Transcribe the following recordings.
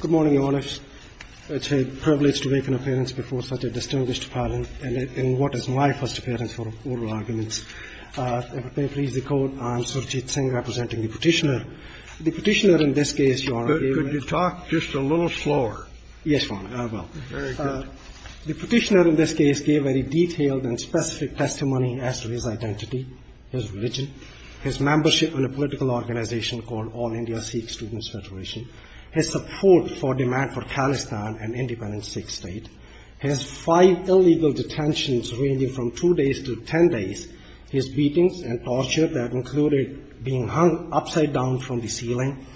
Good morning, Your Honor. It is a privilege to make an appearance before such a distinguished panel in what is my first appearance for oral arguments. If I may please the Court, I am Surjit Singh, representing the Petitioner. The Petitioner in this case, Your Honor, gave... Could you talk just a little slower? Yes, Your Honor, I will. Very good. The Petitioner in this case gave very detailed and specific testimony as to his identity, his religion, his membership in a political organization called All India Sikh Students Federation, his support for demand for Khalistan, an independent Sikh state, his five illegal detentions ranging from two days to ten days, his beatings and torture that included being hung upside down from the ceiling,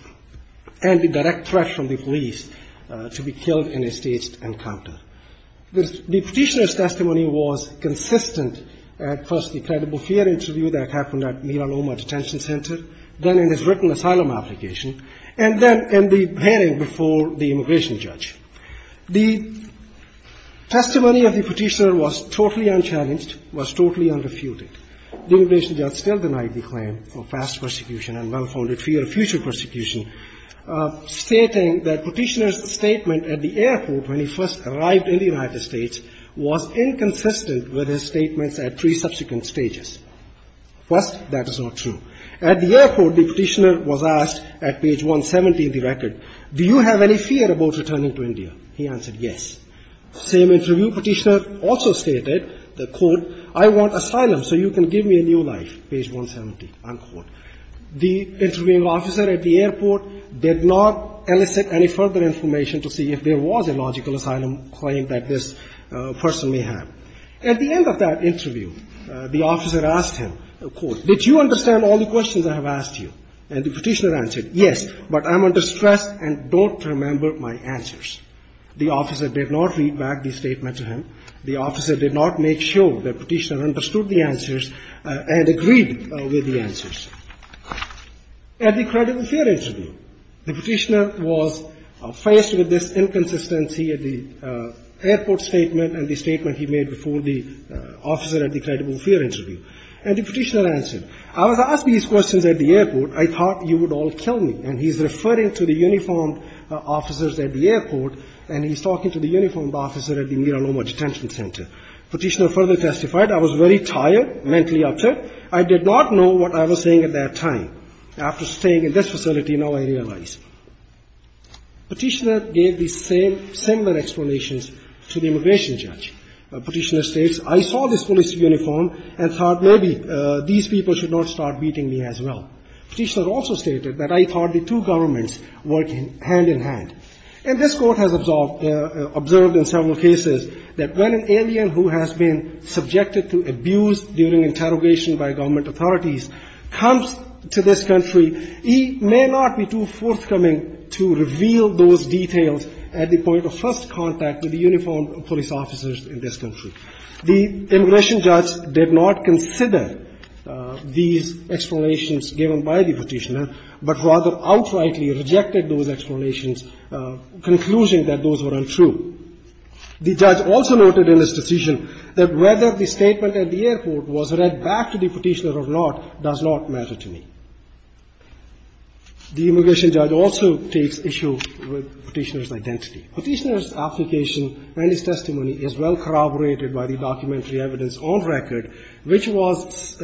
and the direct threat from the police to be killed in a staged encounter. The Petitioner's testimony was consistent at first the credible fear interview that happened at Mira Loma Detention Center, then in his written asylum application, and then in the hearing before the immigration judge. The testimony of the Petitioner was totally unchallenged, was totally unrefuted. The immigration judge still denied the claim of past persecution and well-founded fear of future persecution, stating that Petitioner's statement at the airport when he first arrived in the United States was inconsistent with his statements at three subsequent stages. First, that is not true. At the airport, the Petitioner was asked at page 170 of the record, do you have any fear about returning to India? He answered yes. Same interview, Petitioner also stated, quote, I want asylum so you can give me a new life, page 170, unquote. The interviewing officer at the airport did not elicit any further information to see if there was a logical asylum claim that this person may have. At the end of that interview, the officer asked him, quote, did you understand all the questions I have asked you? And the Petitioner answered, yes, but I'm under stress and don't remember my answers. The officer did not read back the statement to him. The officer did not make sure that Petitioner understood the answers and agreed with the answers. At the credible fear interview, the Petitioner was faced with this inconsistency at the airport statement and the statement he made before the officer at the credible fear interview. And the Petitioner answered, I was asked these questions at the airport, I thought you would all kill me, and he's referring to the uniformed officers at the airport, and he's talking to the uniformed officer at the Mira Loma Detention Center. Petitioner further testified, I was very tired, mentally upset, I did not know what I was saying at that time. After staying in this facility, now I realize. Petitioner gave the same similar explanations to the immigration judge. Petitioner states, I saw this police uniform and thought maybe these people should not start beating me as well. Petitioner also stated that I thought the two governments work hand in hand. And this court has observed in several cases that when an alien who has been subjected to abuse during interrogation by government authorities comes to this country, he may not be too forthcoming to reveal those details at the point of first contact with the uniformed police officers in this country. The immigration judge did not consider these explanations given by the Petitioner, but rather outrightly rejected those explanations, concluding that those were untrue. The judge also noted in his decision that whether the statement at the airport was read back to the Petitioner or not does not matter to me. The immigration judge also takes issue with Petitioner's identity. Petitioner's application and his testimony is well corroborated by the documentary evidence on record, which was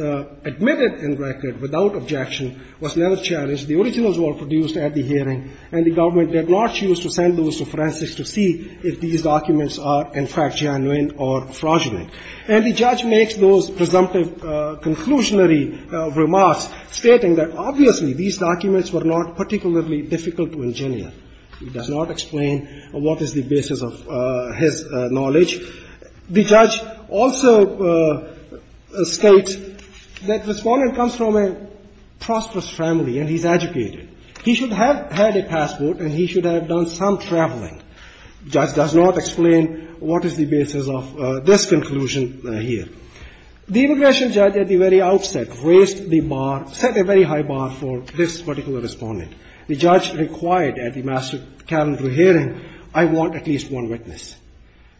admitted in record without objection, was never challenged. The originals were produced at the hearing, and the government did not choose to send those to forensics to see if these documents are, in fact, genuine or fraudulent. And the judge makes those presumptive conclusionary remarks, stating that obviously these documents were not particularly difficult to engineer. He does not explain what is the basis of his knowledge. The judge also states that the Respondent comes from a prosperous family and he's educated. He should have had a passport and he should have done some traveling. The judge does not explain what is the basis of this conclusion here. The immigration judge at the very outset raised the bar, set a very high bar for this particular Respondent. The judge required at the Master Calendar hearing, I want at least one witness.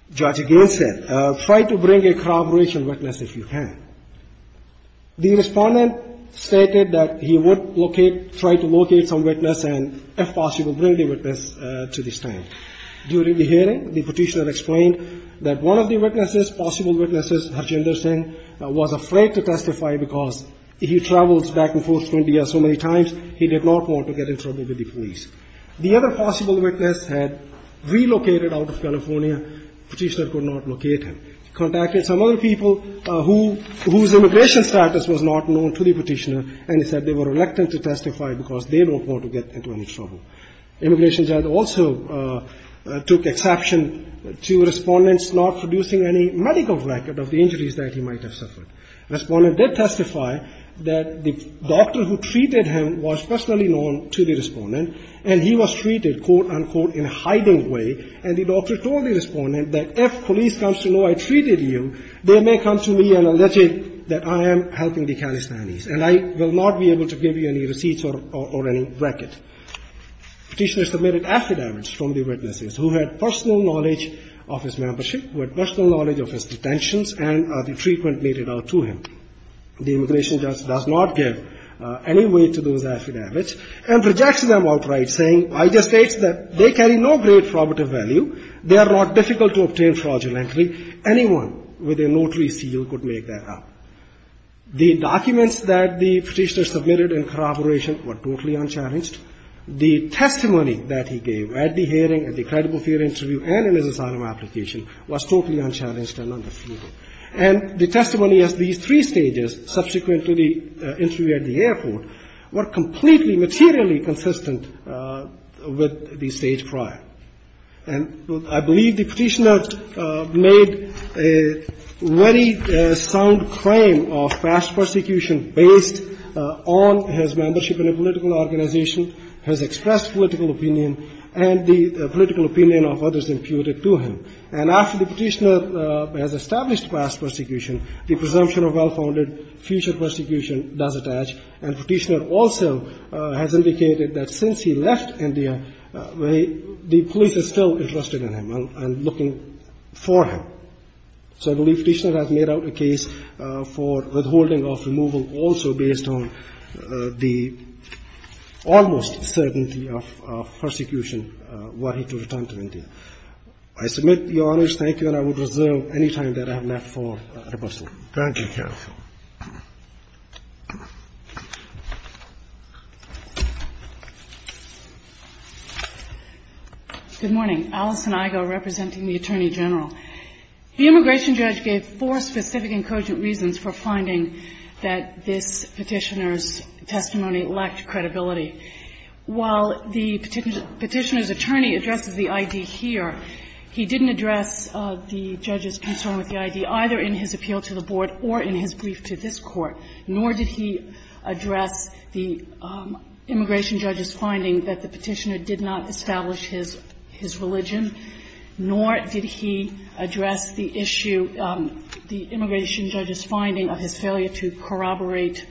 The judge again said, try to bring a corroboration witness if you can. The Respondent stated that he would locate, try to locate some witness and, if possible, bring the witness to the stand. During the hearing, the Petitioner explained that one of the witnesses, possible witnesses, Harjinder Singh, was afraid to testify because he travels back and forth to India so many times, he did not want to get in trouble with the police. The other possible witness had relocated out of California. Petitioner could not locate him. He contacted some other people whose immigration status was not known to the Petitioner and he said they were reluctant to testify because they don't want to get into any trouble. Immigration judge also took exception to Respondent's not producing any medical record of the injuries that he might have suffered. Respondent did testify that the doctor who treated him was personally known to the Respondent and he was treated, quote, unquote, in a hiding way, and the doctor told the Respondent that if police comes to know I treated you, they may come to me and allege that I am helping the Calispanese and I will not be able to give you any receipts or any record. Petitioner submitted affidavits from the witnesses who had personal knowledge of his membership, who had personal knowledge of his detentions, and the treatment made it out to him. The immigration judge does not give any weight to those affidavits and rejects them outright, saying, I just state that they carry no great probative value. They are not difficult to obtain fraudulently. Anyone with a notary seal could make that up. The documents that the Petitioner submitted in corroboration were totally unchallenged. The testimony that he gave at the hearing, at the credible fear interview, and in his asylum application was totally unchallenged and understated. And the testimony at these three stages, subsequent to the interview at the airport, were completely materially consistent with the stage prior. And I believe the Petitioner made a very sound claim of past persecution based on his membership in a political organization, his expressed political opinion, and the political opinion of others imputed to him. And after the Petitioner has established past persecution, the presumption of well-founded future persecution does attach. And Petitioner also has indicated that since he left India, the police are still interested in him and looking for him. So I believe Petitioner has made out a case for withholding of removal also based on the almost certainty of persecution were he to return to India. I submit the honors. Thank you, and I would reserve any time that I have left for rebuttal. Thank you, counsel. Good morning. Alison Igo representing the Attorney General. The immigration judge gave four specific and cogent reasons for finding that this Petitioner's testimony lacked credibility. While the Petitioner's attorney addresses the ID here, he didn't address the judge's concern with the ID either in his appeal to the board or in his brief to this Court, nor did he address the immigration judge's finding that the Petitioner did not establish his religion, nor did he address the issue, the immigration judge's finding of his failure to corroborate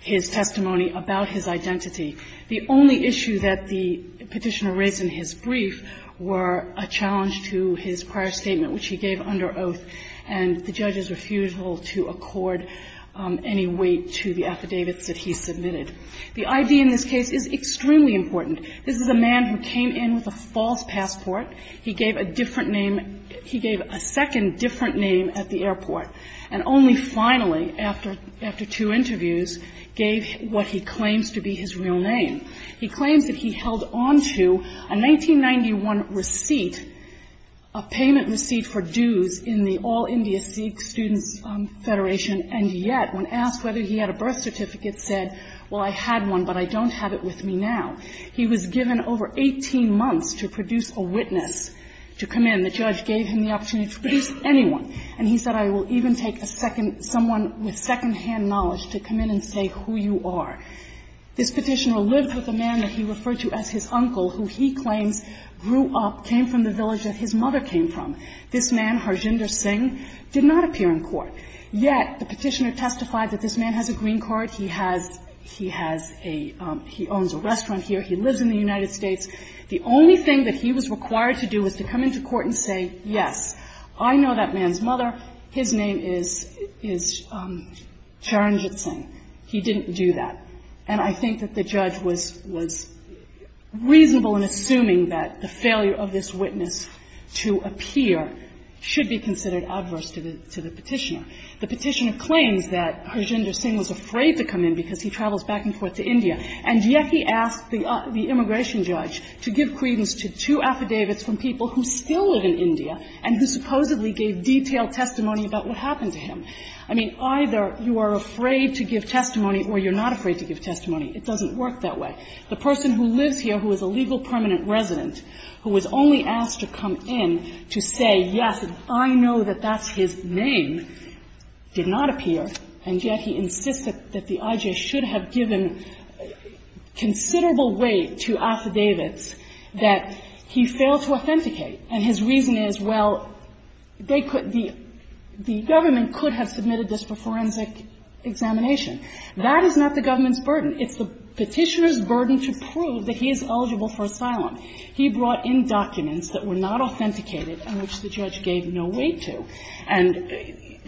his testimony about his identity. The only issue that the Petitioner raised in his brief were a challenge to his prior statement, which he gave under oath, and the judge's refusal to accord any weight to the affidavits that he submitted. The ID in this case is extremely important. This is a man who came in with a false passport. He gave a different name. He gave a second different name at the airport, and only finally, after two interviews, gave what he claims to be his real name. He claims that he held on to a 1991 receipt, a payment receipt for dues in the All-India Sikh Students' Federation, and yet, when asked whether he had a birth certificate, said, well, I had one, but I don't have it with me now. He was given over 18 months to produce a witness to come in. The judge gave him the opportunity to produce anyone, and he said, I will even take a second, someone with secondhand knowledge to come in and say who you are. This petitioner lived with a man that he referred to as his uncle, who he claims grew up, came from the village that his mother came from. This man, Harjinder Singh, did not appear in court, yet the petitioner testified that this man has a green card. He has a he owns a restaurant here. He lives in the United States. The only thing that he was required to do was to come into court and say, yes, I know that man's mother. His name is Charanjit Singh. He didn't do that. And I think that the judge was reasonable in assuming that the failure of this witness to appear should be considered adverse to the petitioner. The petitioner claims that Harjinder Singh was afraid to come in because he travels back and forth to India, and yet he asked the immigration judge to give credence to two affidavits from people who still live in India and who supposedly gave detailed testimony about what happened to him. I mean, either you are afraid to give testimony or you're not afraid to give testimony. It doesn't work that way. The person who lives here, who is a legal permanent resident, who was only asked to come in to say, yes, I know that that's his name, did not appear, and yet he insists that the IJ should have given considerable weight to affidavits that he failed to authenticate, and his reason is, well, they could be the government could have submitted this for forensic examination. That is not the government's burden. It's the petitioner's burden to prove that he is eligible for asylum. He brought in documents that were not authenticated and which the judge gave no weight to. And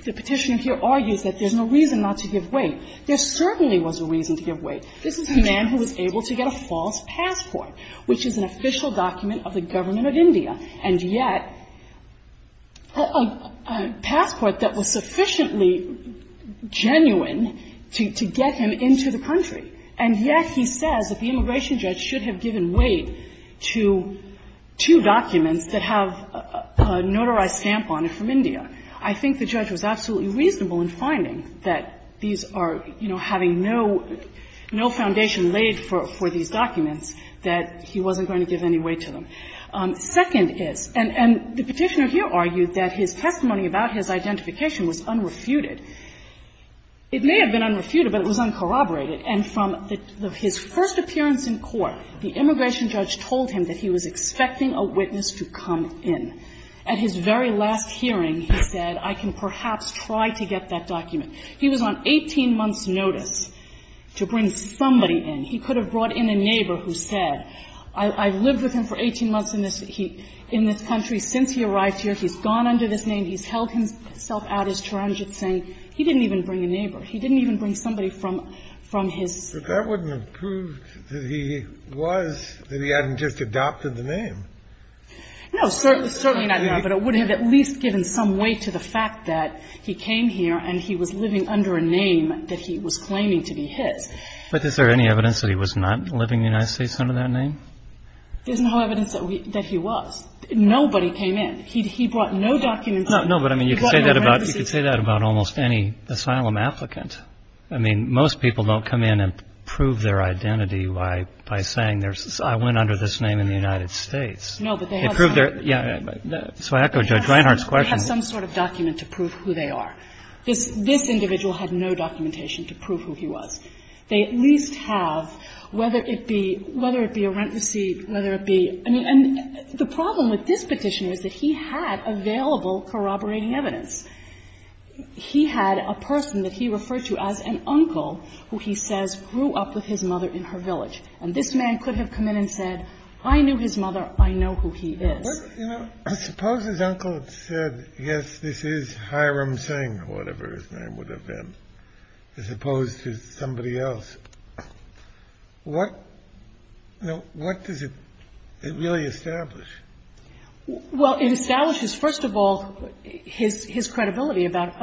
the petitioner here argues that there's no reason not to give weight. There certainly was a reason to give weight. This is a man who was able to get a false passport, which is an official document of the government of India, and yet a passport that was sufficiently genuine to get him into the country, and yet he says that the immigration judge should have given weight to two documents that have a notarized stamp on it from India. I think the judge was absolutely reasonable in finding that these are, you know, no foundation laid for these documents that he wasn't going to give any weight to them. Second is, and the petitioner here argued that his testimony about his identification was unrefuted. It may have been unrefuted, but it was uncorroborated. And from his first appearance in court, the immigration judge told him that he was expecting a witness to come in. At his very last hearing, he said, I can perhaps try to get that document. He was on 18 months' notice to bring somebody in. He could have brought in a neighbor who said, I've lived with him for 18 months in this country. Since he arrived here, he's gone under this name. He's held himself out as torrential, saying he didn't even bring a neighbor. He didn't even bring somebody from his. But that wouldn't have proved that he was, that he hadn't just adopted the name. No, certainly not, Your Honor, but it would have at least given some weight to the claim that he was living under a name that he was claiming to be his. But is there any evidence that he was not living in the United States under that name? There's no evidence that he was. Nobody came in. He brought no documents. No, but I mean, you could say that about almost any asylum applicant. I mean, most people don't come in and prove their identity by saying, I went under this name in the United States. No, but they have some. So I echo Judge Reinhart's question. They have some sort of document to prove who they are. This individual had no documentation to prove who he was. They at least have, whether it be a rent receipt, whether it be – I mean, and the problem with this Petitioner is that he had available corroborating evidence. He had a person that he referred to as an uncle who he says grew up with his mother in her village. And this man could have come in and said, I knew his mother. I know who he is. I suppose his uncle said, yes, this is Hiram Singh, or whatever his name would have been, as opposed to somebody else. What does it really establish? Well, it establishes, first of all, his credibility about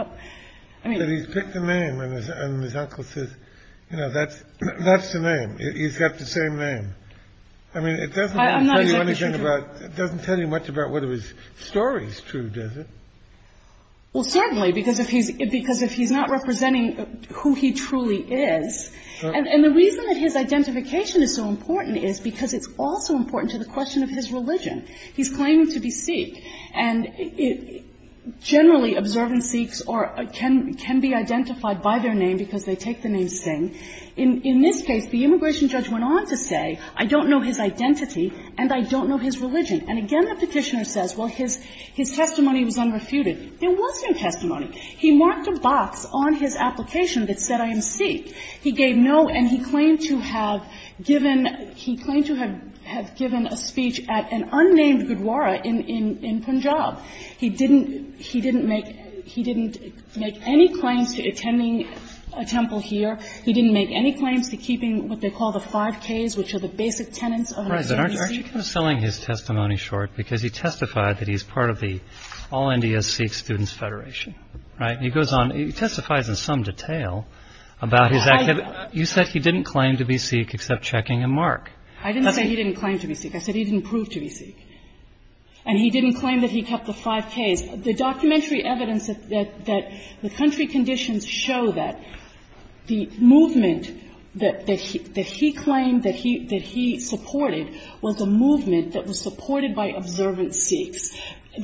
– I mean – But he's picked a name, and his uncle says, you know, that's the name. He's got the same name. I mean, it doesn't tell you anything about – It doesn't tell you much about whether his story is true, does it? Well, certainly, because if he's not representing who he truly is. And the reason that his identification is so important is because it's also important to the question of his religion. He's claiming to be Sikh. And generally, observant Sikhs can be identified by their name because they take the name Singh. In this case, the immigration judge went on to say, I don't know his identity and I don't know his religion. And again, the Petitioner says, well, his testimony was unrefuted. There wasn't a testimony. He marked a box on his application that said, I am Sikh. He gave no, and he claimed to have given – he claimed to have given a speech at an unnamed Gurdwara in Punjab. He didn't make any claims to attending a temple here. He didn't make any claims to keeping what they call the 5Ks, which are the basic tenets of a Sikh. I'm surprised. Aren't you kind of selling his testimony short because he testified that he's part of the All India Sikh Students' Federation, right? He goes on – he testifies in some detail about his activity. You said he didn't claim to be Sikh except checking a mark. I didn't say he didn't claim to be Sikh. I said he didn't prove to be Sikh. And he didn't claim that he kept the 5Ks. The documentary evidence that the country conditions show that the movement that he claimed that he supported was a movement that was supported by observant Sikhs.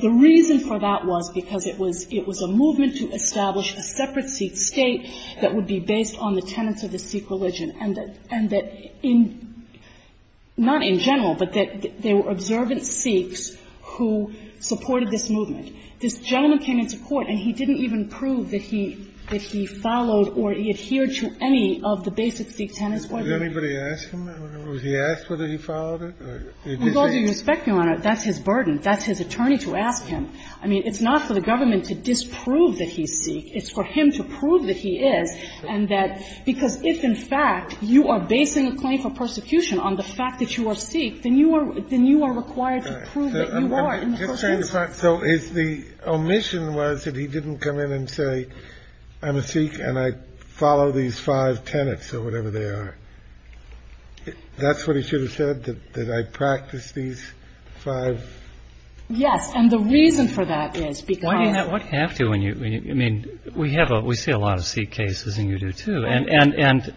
The reason for that was because it was a movement to establish a separate Sikh state that would be based on the tenets of the Sikh religion, and that in – not in general, but that there were observant Sikhs who supported this movement. This gentleman came into court, and he didn't even prove that he followed or he adhered to any of the basic Sikh tenets. Did anybody ask him? Was he asked whether he followed it? Because you're speculating on it. That's his burden. That's his attorney to ask him. I mean, it's not for the government to disprove that he's Sikh. It's for him to prove that he is and that – because if, in fact, you are basing a claim for persecution on the fact that you are Sikh, then you are – then you are required to prove that you are in the first instance. So his – the omission was that he didn't come in and say, I'm a Sikh, and I follow these five tenets or whatever they are. That's what he should have said, that I practice these five – Yes, and the reason for that is because – Why do you have to when you – I mean, we have a – we see a lot of Sikh cases, and you do too, and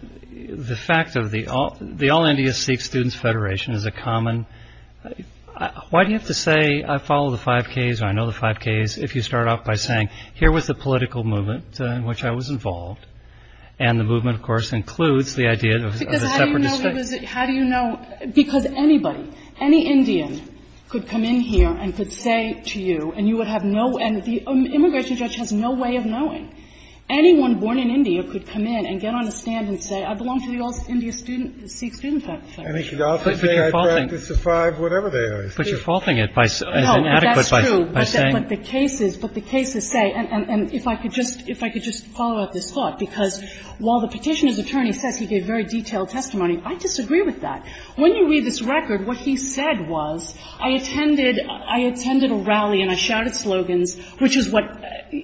the fact of the – the All India Sikh Students' Federation is a common – why do you have to say, I follow the 5Ks or I know the 5Ks, if you start off by saying, here was the political movement in which I was involved, and the movement, of course, includes the idea of a separate – Because how do you know it was – how do you know – because anybody, any Indian could come in here and could say to you, and you would have no – and the immigration judge has no way of knowing. Anyone born in India could come in and get on a stand and say, I belong to the All India Sikh Students' Federation. And he could also say, I practice the five, whatever they are. But you're faulting it by – as inadequate by saying – No, that's true. But the cases – but the cases say – and if I could just – if I could just follow up this thought, because while the Petitioner's attorney says he gave very detailed testimony, I disagree with that. When you read this record, what he said was, I attended – I attended a rally and I shouted slogans, which is what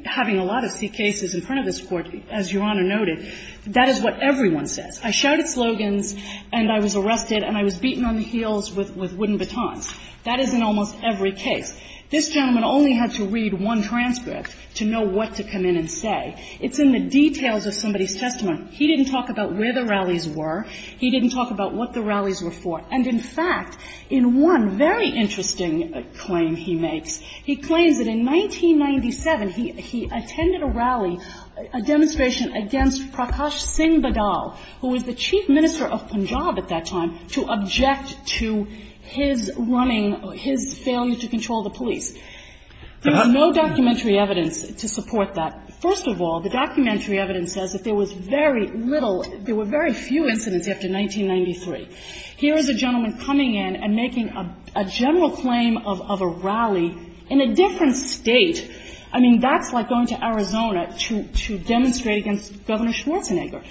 having a lot of Sikh cases in front of this Court, as Your Honor noted, that is what everyone says. I shouted slogans and I was arrested and I was beaten on the heels with – with wooden batons. That is in almost every case. This gentleman only had to read one transcript to know what to come in and say. It's in the details of somebody's testimony. He didn't talk about where the rallies were. He didn't talk about what the rallies were for. And, in fact, in one very interesting claim he makes, he claims that in 1997, he was the chief minister of Punjab at that time to object to his running – his failure to control the police. There is no documentary evidence to support that. First of all, the documentary evidence says that there was very little – there were very few incidents after 1993. Here is a gentleman coming in and making a general claim of a rally in a different state. I mean, that's like going to Arizona to – to demonstrate against Governor Schwarzenegger.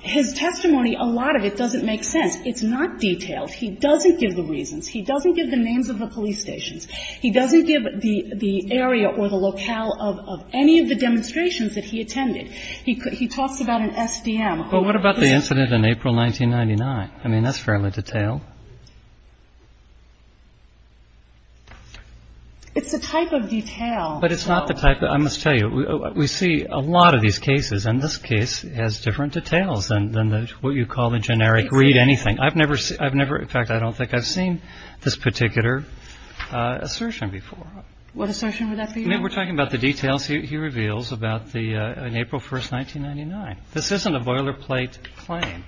His testimony, a lot of it doesn't make sense. It's not detailed. He doesn't give the reasons. He doesn't give the names of the police stations. He doesn't give the – the area or the locale of – of any of the demonstrations that he attended. He talks about an SDM. But what about the incident in April 1999? I mean, that's fairly detailed. It's the type of detail. But it's not the type of – I must tell you, we see a lot of these cases, and this case has different details than the – what you call the generic read anything. I've never – I've never – in fact, I don't think I've seen this particular assertion before. What assertion would that be? I mean, we're talking about the details he reveals about the – on April 1st, 1999. This isn't a boilerplate claim,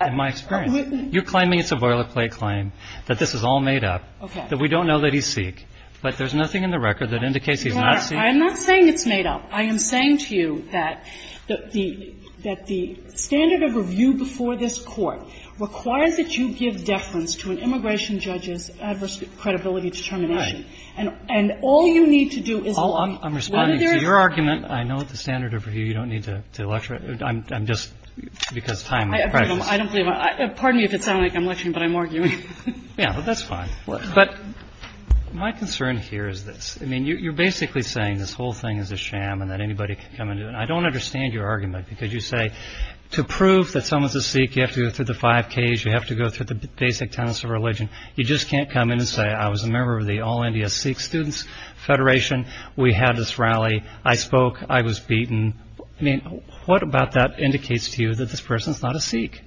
in my experience. You're claiming it's a boilerplate claim, that this is all made up. Okay. That we don't know that he's Sikh, but there's nothing in the record that indicates he's not Sikh. I'm not saying it's made up. I am saying to you that the – that the standard of review before this Court requires that you give deference to an immigration judge's adverse credibility determination. Right. And all you need to do is – I'm responding to your argument. I know at the standard of review, you don't need to lecture. I'm just – because time and practice. I don't believe I – pardon me if it sounds like I'm lecturing, but I'm arguing. Yeah, but that's fine. But my concern here is this. I mean, you're basically saying this whole thing is a sham and that anybody can come into it. And I don't understand your argument, because you say to prove that someone's a Sikh, you have to go through the five Ks, you have to go through the basic tenets of religion. You just can't come in and say, I was a member of the All India Sikh Students' Federation. We had this rally. I spoke. I was beaten. I mean, what about that indicates to you that this person's not a Sikh?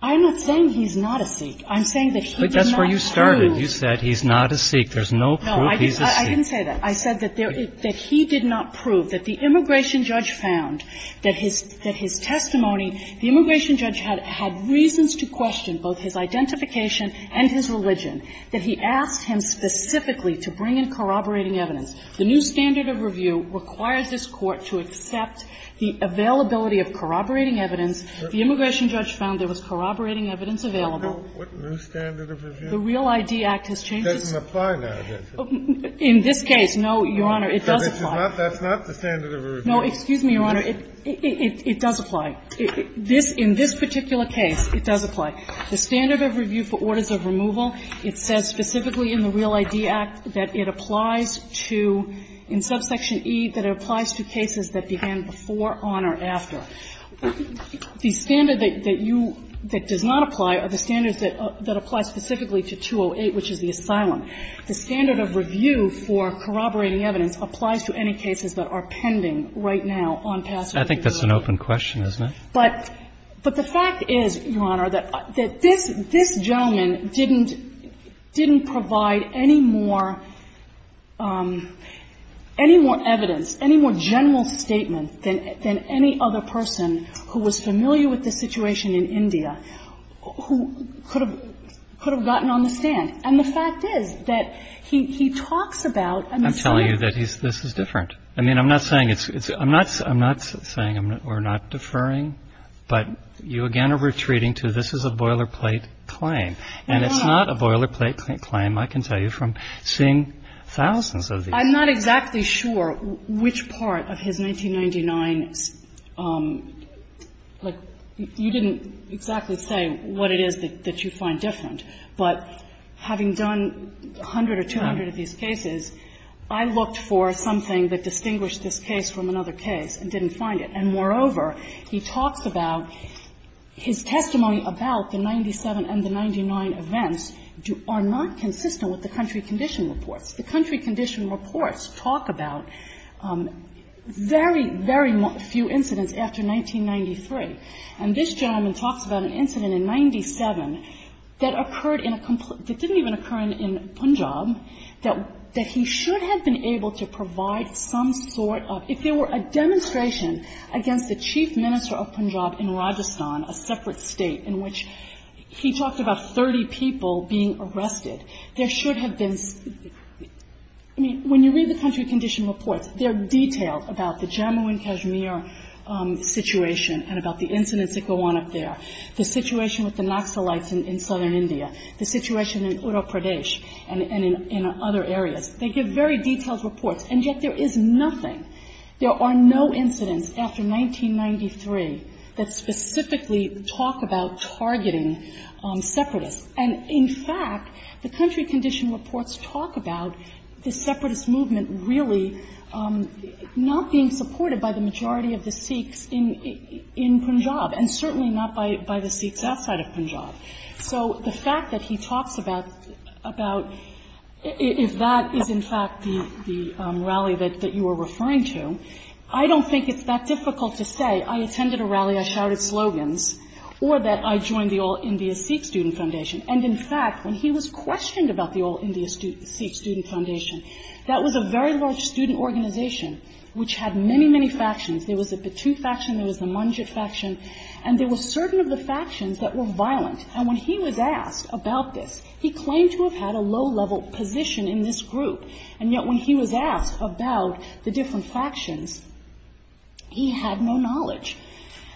I'm not saying he's not a Sikh. I'm saying that he did not prove – But that's where you started. You said he's not a Sikh. There's no proof he's a Sikh. No, I didn't say that. I said that there – that he did not prove, that the immigration judge found that his – that his testimony – the immigration judge had reasons to question both his identification and his religion, that he asked him specifically to bring in corroborating evidence. The new standard of review requires this Court to accept the availability of corroborating evidence. The immigration judge found there was corroborating evidence available. What new standard of review? The Real ID Act has changed. It doesn't apply now, does it? In this case, no, Your Honor. It does apply. That's not the standard of review. No, excuse me, Your Honor. It does apply. In this particular case, it does apply. The standard of review for orders of removal, it says specifically in the Real ID Act that it applies to, in subsection E, that it applies to cases that began before, on, or after. The standard that you – that does not apply are the standards that apply specifically to 208, which is the asylum. The standard of review for corroborating evidence applies to any cases that are pending right now on passage of the Act. I think that's an open question, isn't it? But – but the fact is, Your Honor, that this – this gentleman didn't – didn't provide any more – any more evidence, any more general statement than – than any other person who was familiar with the situation in India who could have – could have gotten on the stand. And the fact is that he – he talks about and he says – I'm telling you that he's – this is different. I mean, I'm not saying it's – it's – I'm not – I'm not saying we're not deferring, but you again are retreating to this is a boilerplate claim. And it's not a boilerplate claim, I can tell you, from seeing thousands of these. I'm not exactly sure which part of his 1999 – like, you didn't exactly say what it is that you find different, but having done 100 or 200 of these cases, I looked for something that distinguished this case from another case and didn't find it. And moreover, he talks about his testimony about the 97 and the 99 events do – are not consistent with the country condition reports. The country condition reports talk about very, very few incidents after 1993. And this gentleman talks about an incident in 97 that occurred in a – that didn't even occur in Punjab that – that he should have been able to provide some sort of – if there were a demonstration against the chief minister of Punjab in Rajasthan, a separate state in which he talked about 30 people being arrested, there should have been – I mean, when you read the country condition reports, they're detailed about the Jammu and Kashmir situation and about the incidents that go on up there, the situation with the Naxalites in southern India, the situation in Uttar Pradesh and in other areas. They give very detailed reports, and yet there is nothing – there are no incidents after 1993 that specifically talk about targeting separatists. And in fact, the country condition reports talk about the separatist movement really not being supported by the majority of the Sikhs in – in Punjab and certainly not by the Sikhs outside of Punjab. So the fact that he talks about – about if that is in fact the rally that you are referring to, I don't think it's that difficult to say, I attended a rally, I shouted slogans, or that I joined the All India Sikh Student Foundation. And in fact, when he was questioned about the All India Sikh Student Foundation, that was a very large student organization which had many, many factions. There was the Batu faction, there was the Manjit faction, and there were certain of the factions that were violent. And when he was asked about this, he claimed to have had a low-level position in this group. And yet when he was asked about the different factions, he had no knowledge.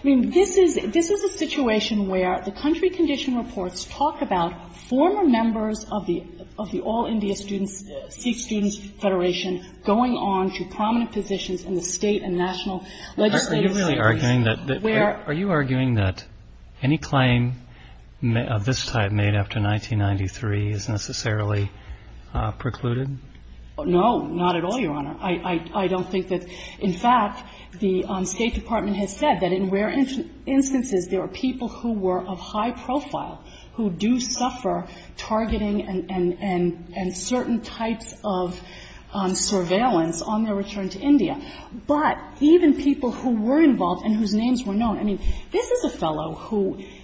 I mean, this is – this is a situation where the country condition reports talk about former members of the – of the All India Students – Sikh Students Federation going on to prominent positions in the state and national legislative circles where – Are you really arguing that – are you arguing that any claim of this type made after 1993 is necessarily precluded? No, not at all, Your Honor. I don't think that – in fact, the State Department has said that in rare instances there are people who were of high profile who do suffer targeting and – and certain types of surveillance on their return to India. But even people who were involved and whose names were known – I mean, this is a fellow who –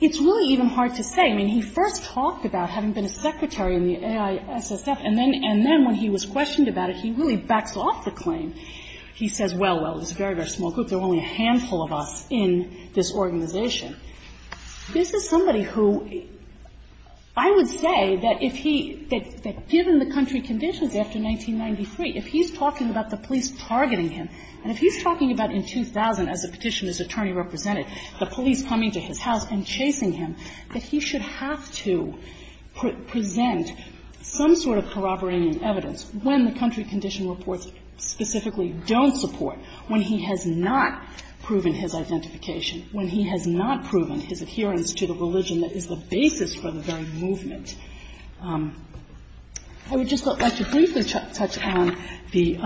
it's really even hard to say. I mean, he first talked about having been a Sikh student, and then – and then when he was questioned about it, he really backs off the claim. He says, well, well, it's a very, very small group. There are only a handful of us in this organization. This is somebody who – I would say that if he – that given the country conditions after 1993, if he's talking about the police targeting him, and if he's talking about in 2000, as the Petitioner's attorney represented, the police coming to his house and chasing him, that he should have to present some sort of corroborating evidence when the country condition reports specifically don't support, when he has not proven his identification, when he has not proven his adherence to the religion that is the basis for the very movement. I would just like to briefly touch on the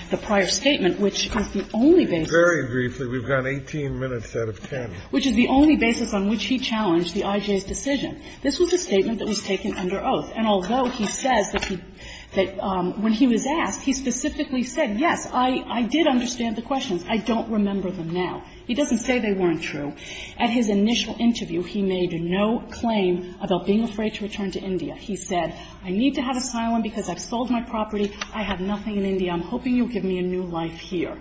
– the prior statement, which is the only basis. Very briefly. We've got 18 minutes out of 10. Which is the only basis on which he challenged the IJ's decision. This was a statement that was taken under oath. And although he says that he – that when he was asked, he specifically said, yes, I – I did understand the questions. I don't remember them now. He doesn't say they weren't true. At his initial interview, he made no claim about being afraid to return to India. He said, I need to have asylum because I've sold my property. I have nothing in India. I'm hoping you'll give me a new life here.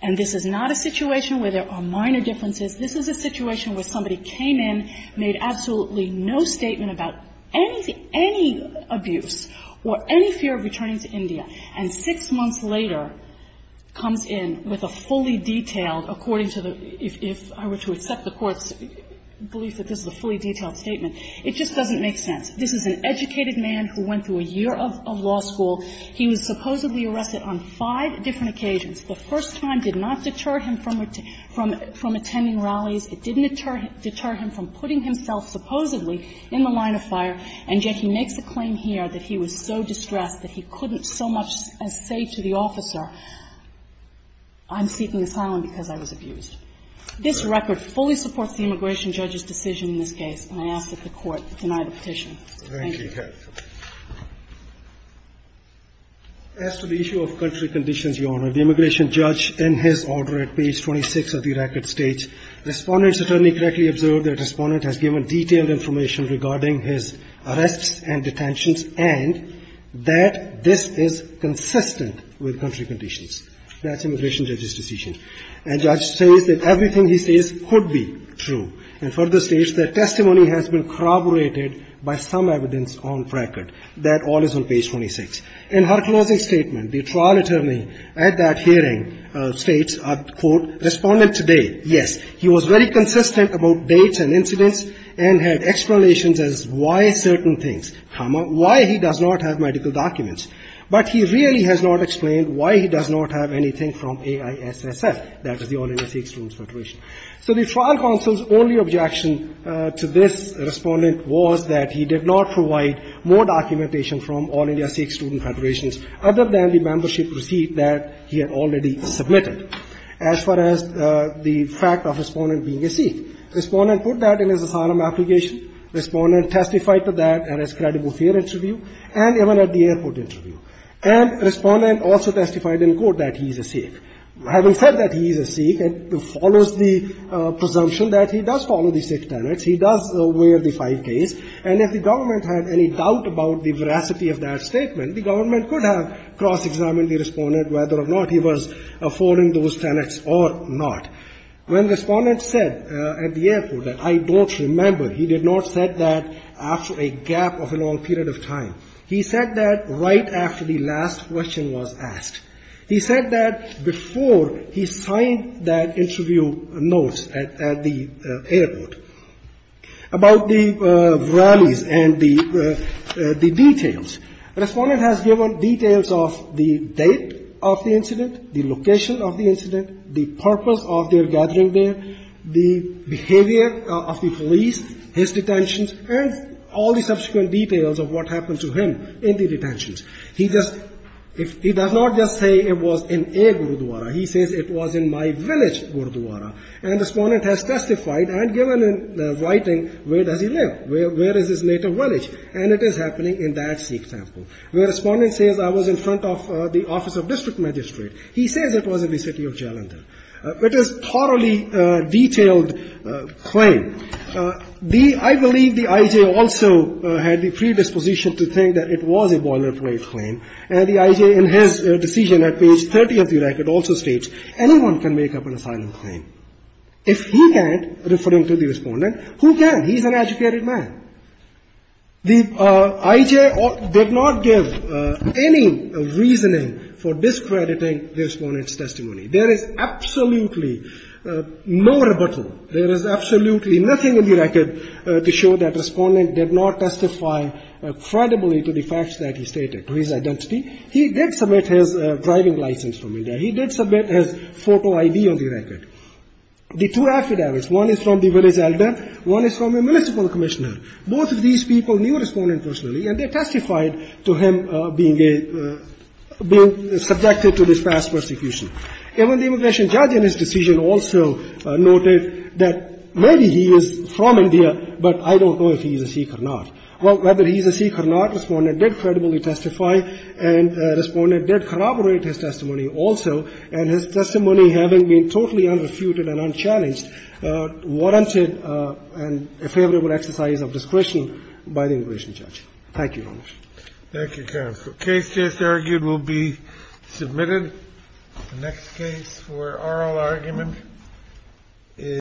And this is not a situation where there are minor differences. This is a situation where somebody came in, made absolutely no statement about anything – any abuse or any fear of returning to India, and six months later comes in with a fully detailed, according to the – if I were to accept the Court's belief that this is a fully detailed statement, it just doesn't make sense. This is an educated man who went through a year of law school. He was supposedly arrested on five different occasions. The first time did not deter him from attending rallies. It didn't deter him from putting himself supposedly in the line of fire, and yet he makes a claim here that he was so distressed that he couldn't so much as say to the officer, I'm seeking asylum because I was abused. This record fully supports the immigration judge's decision in this case, and I ask that the Court deny the petition. Thank you. As to the issue of country conditions, Your Honor, the immigration judge, in his order at page 26 of the record states, Respondent's attorney correctly observed that Respondent has given detailed information regarding his arrests and detentions and that this is consistent with country conditions. That's immigration judge's decision. And judge says that everything he says could be true, and further states that testimony has been corroborated by some evidence on record. That all is on page 26. In her closing statement, the trial attorney at that hearing states, I quote, Respondent today, yes, he was very consistent about dates and incidents and had explanations as why certain things, comma, why he does not have medical documents. But he really has not explained why he does not have anything from AISSF, that is the All India Sikh Student Federation. So the trial counsel's only objection to this Respondent was that he did not provide more documentation from All India Sikh Student Federation other than the membership receipt that he had already submitted. As far as the fact of Respondent being a Sikh, Respondent put that in his asylum application. Respondent testified to that in his credible welfare interview and even at the airport interview. And Respondent also testified in court that he is a Sikh. Having said that he is a Sikh and follows the presumption that he does follow the Sikh tenets, he does wear the five k's, and if the government had any doubt about the veracity of that statement, the government could have cross-examined the Respondent whether or not he was following those tenets or not. When Respondent said at the airport that I don't remember, he did not say that after a gap of a long period of time. He said that right after the last question was asked. He said that before he signed that interview notes at the airport. About the rallies and the details, Respondent has given details of the date of the incident, the location of the incident, the purpose of their gathering there, the behavior of the police, his detentions, and all the subsequent details of what happened to him in the detentions. He does not just say it was in a Gurdwara. He says it was in my village Gurdwara. And Respondent has testified and given writing where does he live, where is his native village, and it is happening in that Sikh temple. Where Respondent says I was in front of the office of district magistrate. He says it was in the city of Jalandhar. It is a thoroughly detailed claim. I believe the I.J. also had the predisposition to think that it was a boilerplate claim, and the I.J. in his decision at page 30 of the record also states anyone can make up an asylum claim. If he can't, referring to the Respondent, who can? He's an educated man. The I.J. did not give any reasoning for discrediting the Respondent's testimony. There is absolutely no rebuttal. There is absolutely nothing in the record to show that Respondent did not testify credibly to the facts that he stated, to his identity. He did submit his driving license from India. He did submit his photo ID on the record. The two affidavits, one is from the village elder, one is from a municipal commissioner. Both of these people knew Respondent personally, and they testified to him being subjected to this past persecution. Even the immigration judge in his decision also noted that maybe he is from India, but I don't know if he is a Sikh or not. Well, whether he is a Sikh or not, Respondent did his testimony having been totally unrefuted and unchallenged, warranted a favorable exercise of discretion by the immigration judge. Thank you, Your Honor. Thank you, counsel. Case just argued will be submitted. The next case for oral argument is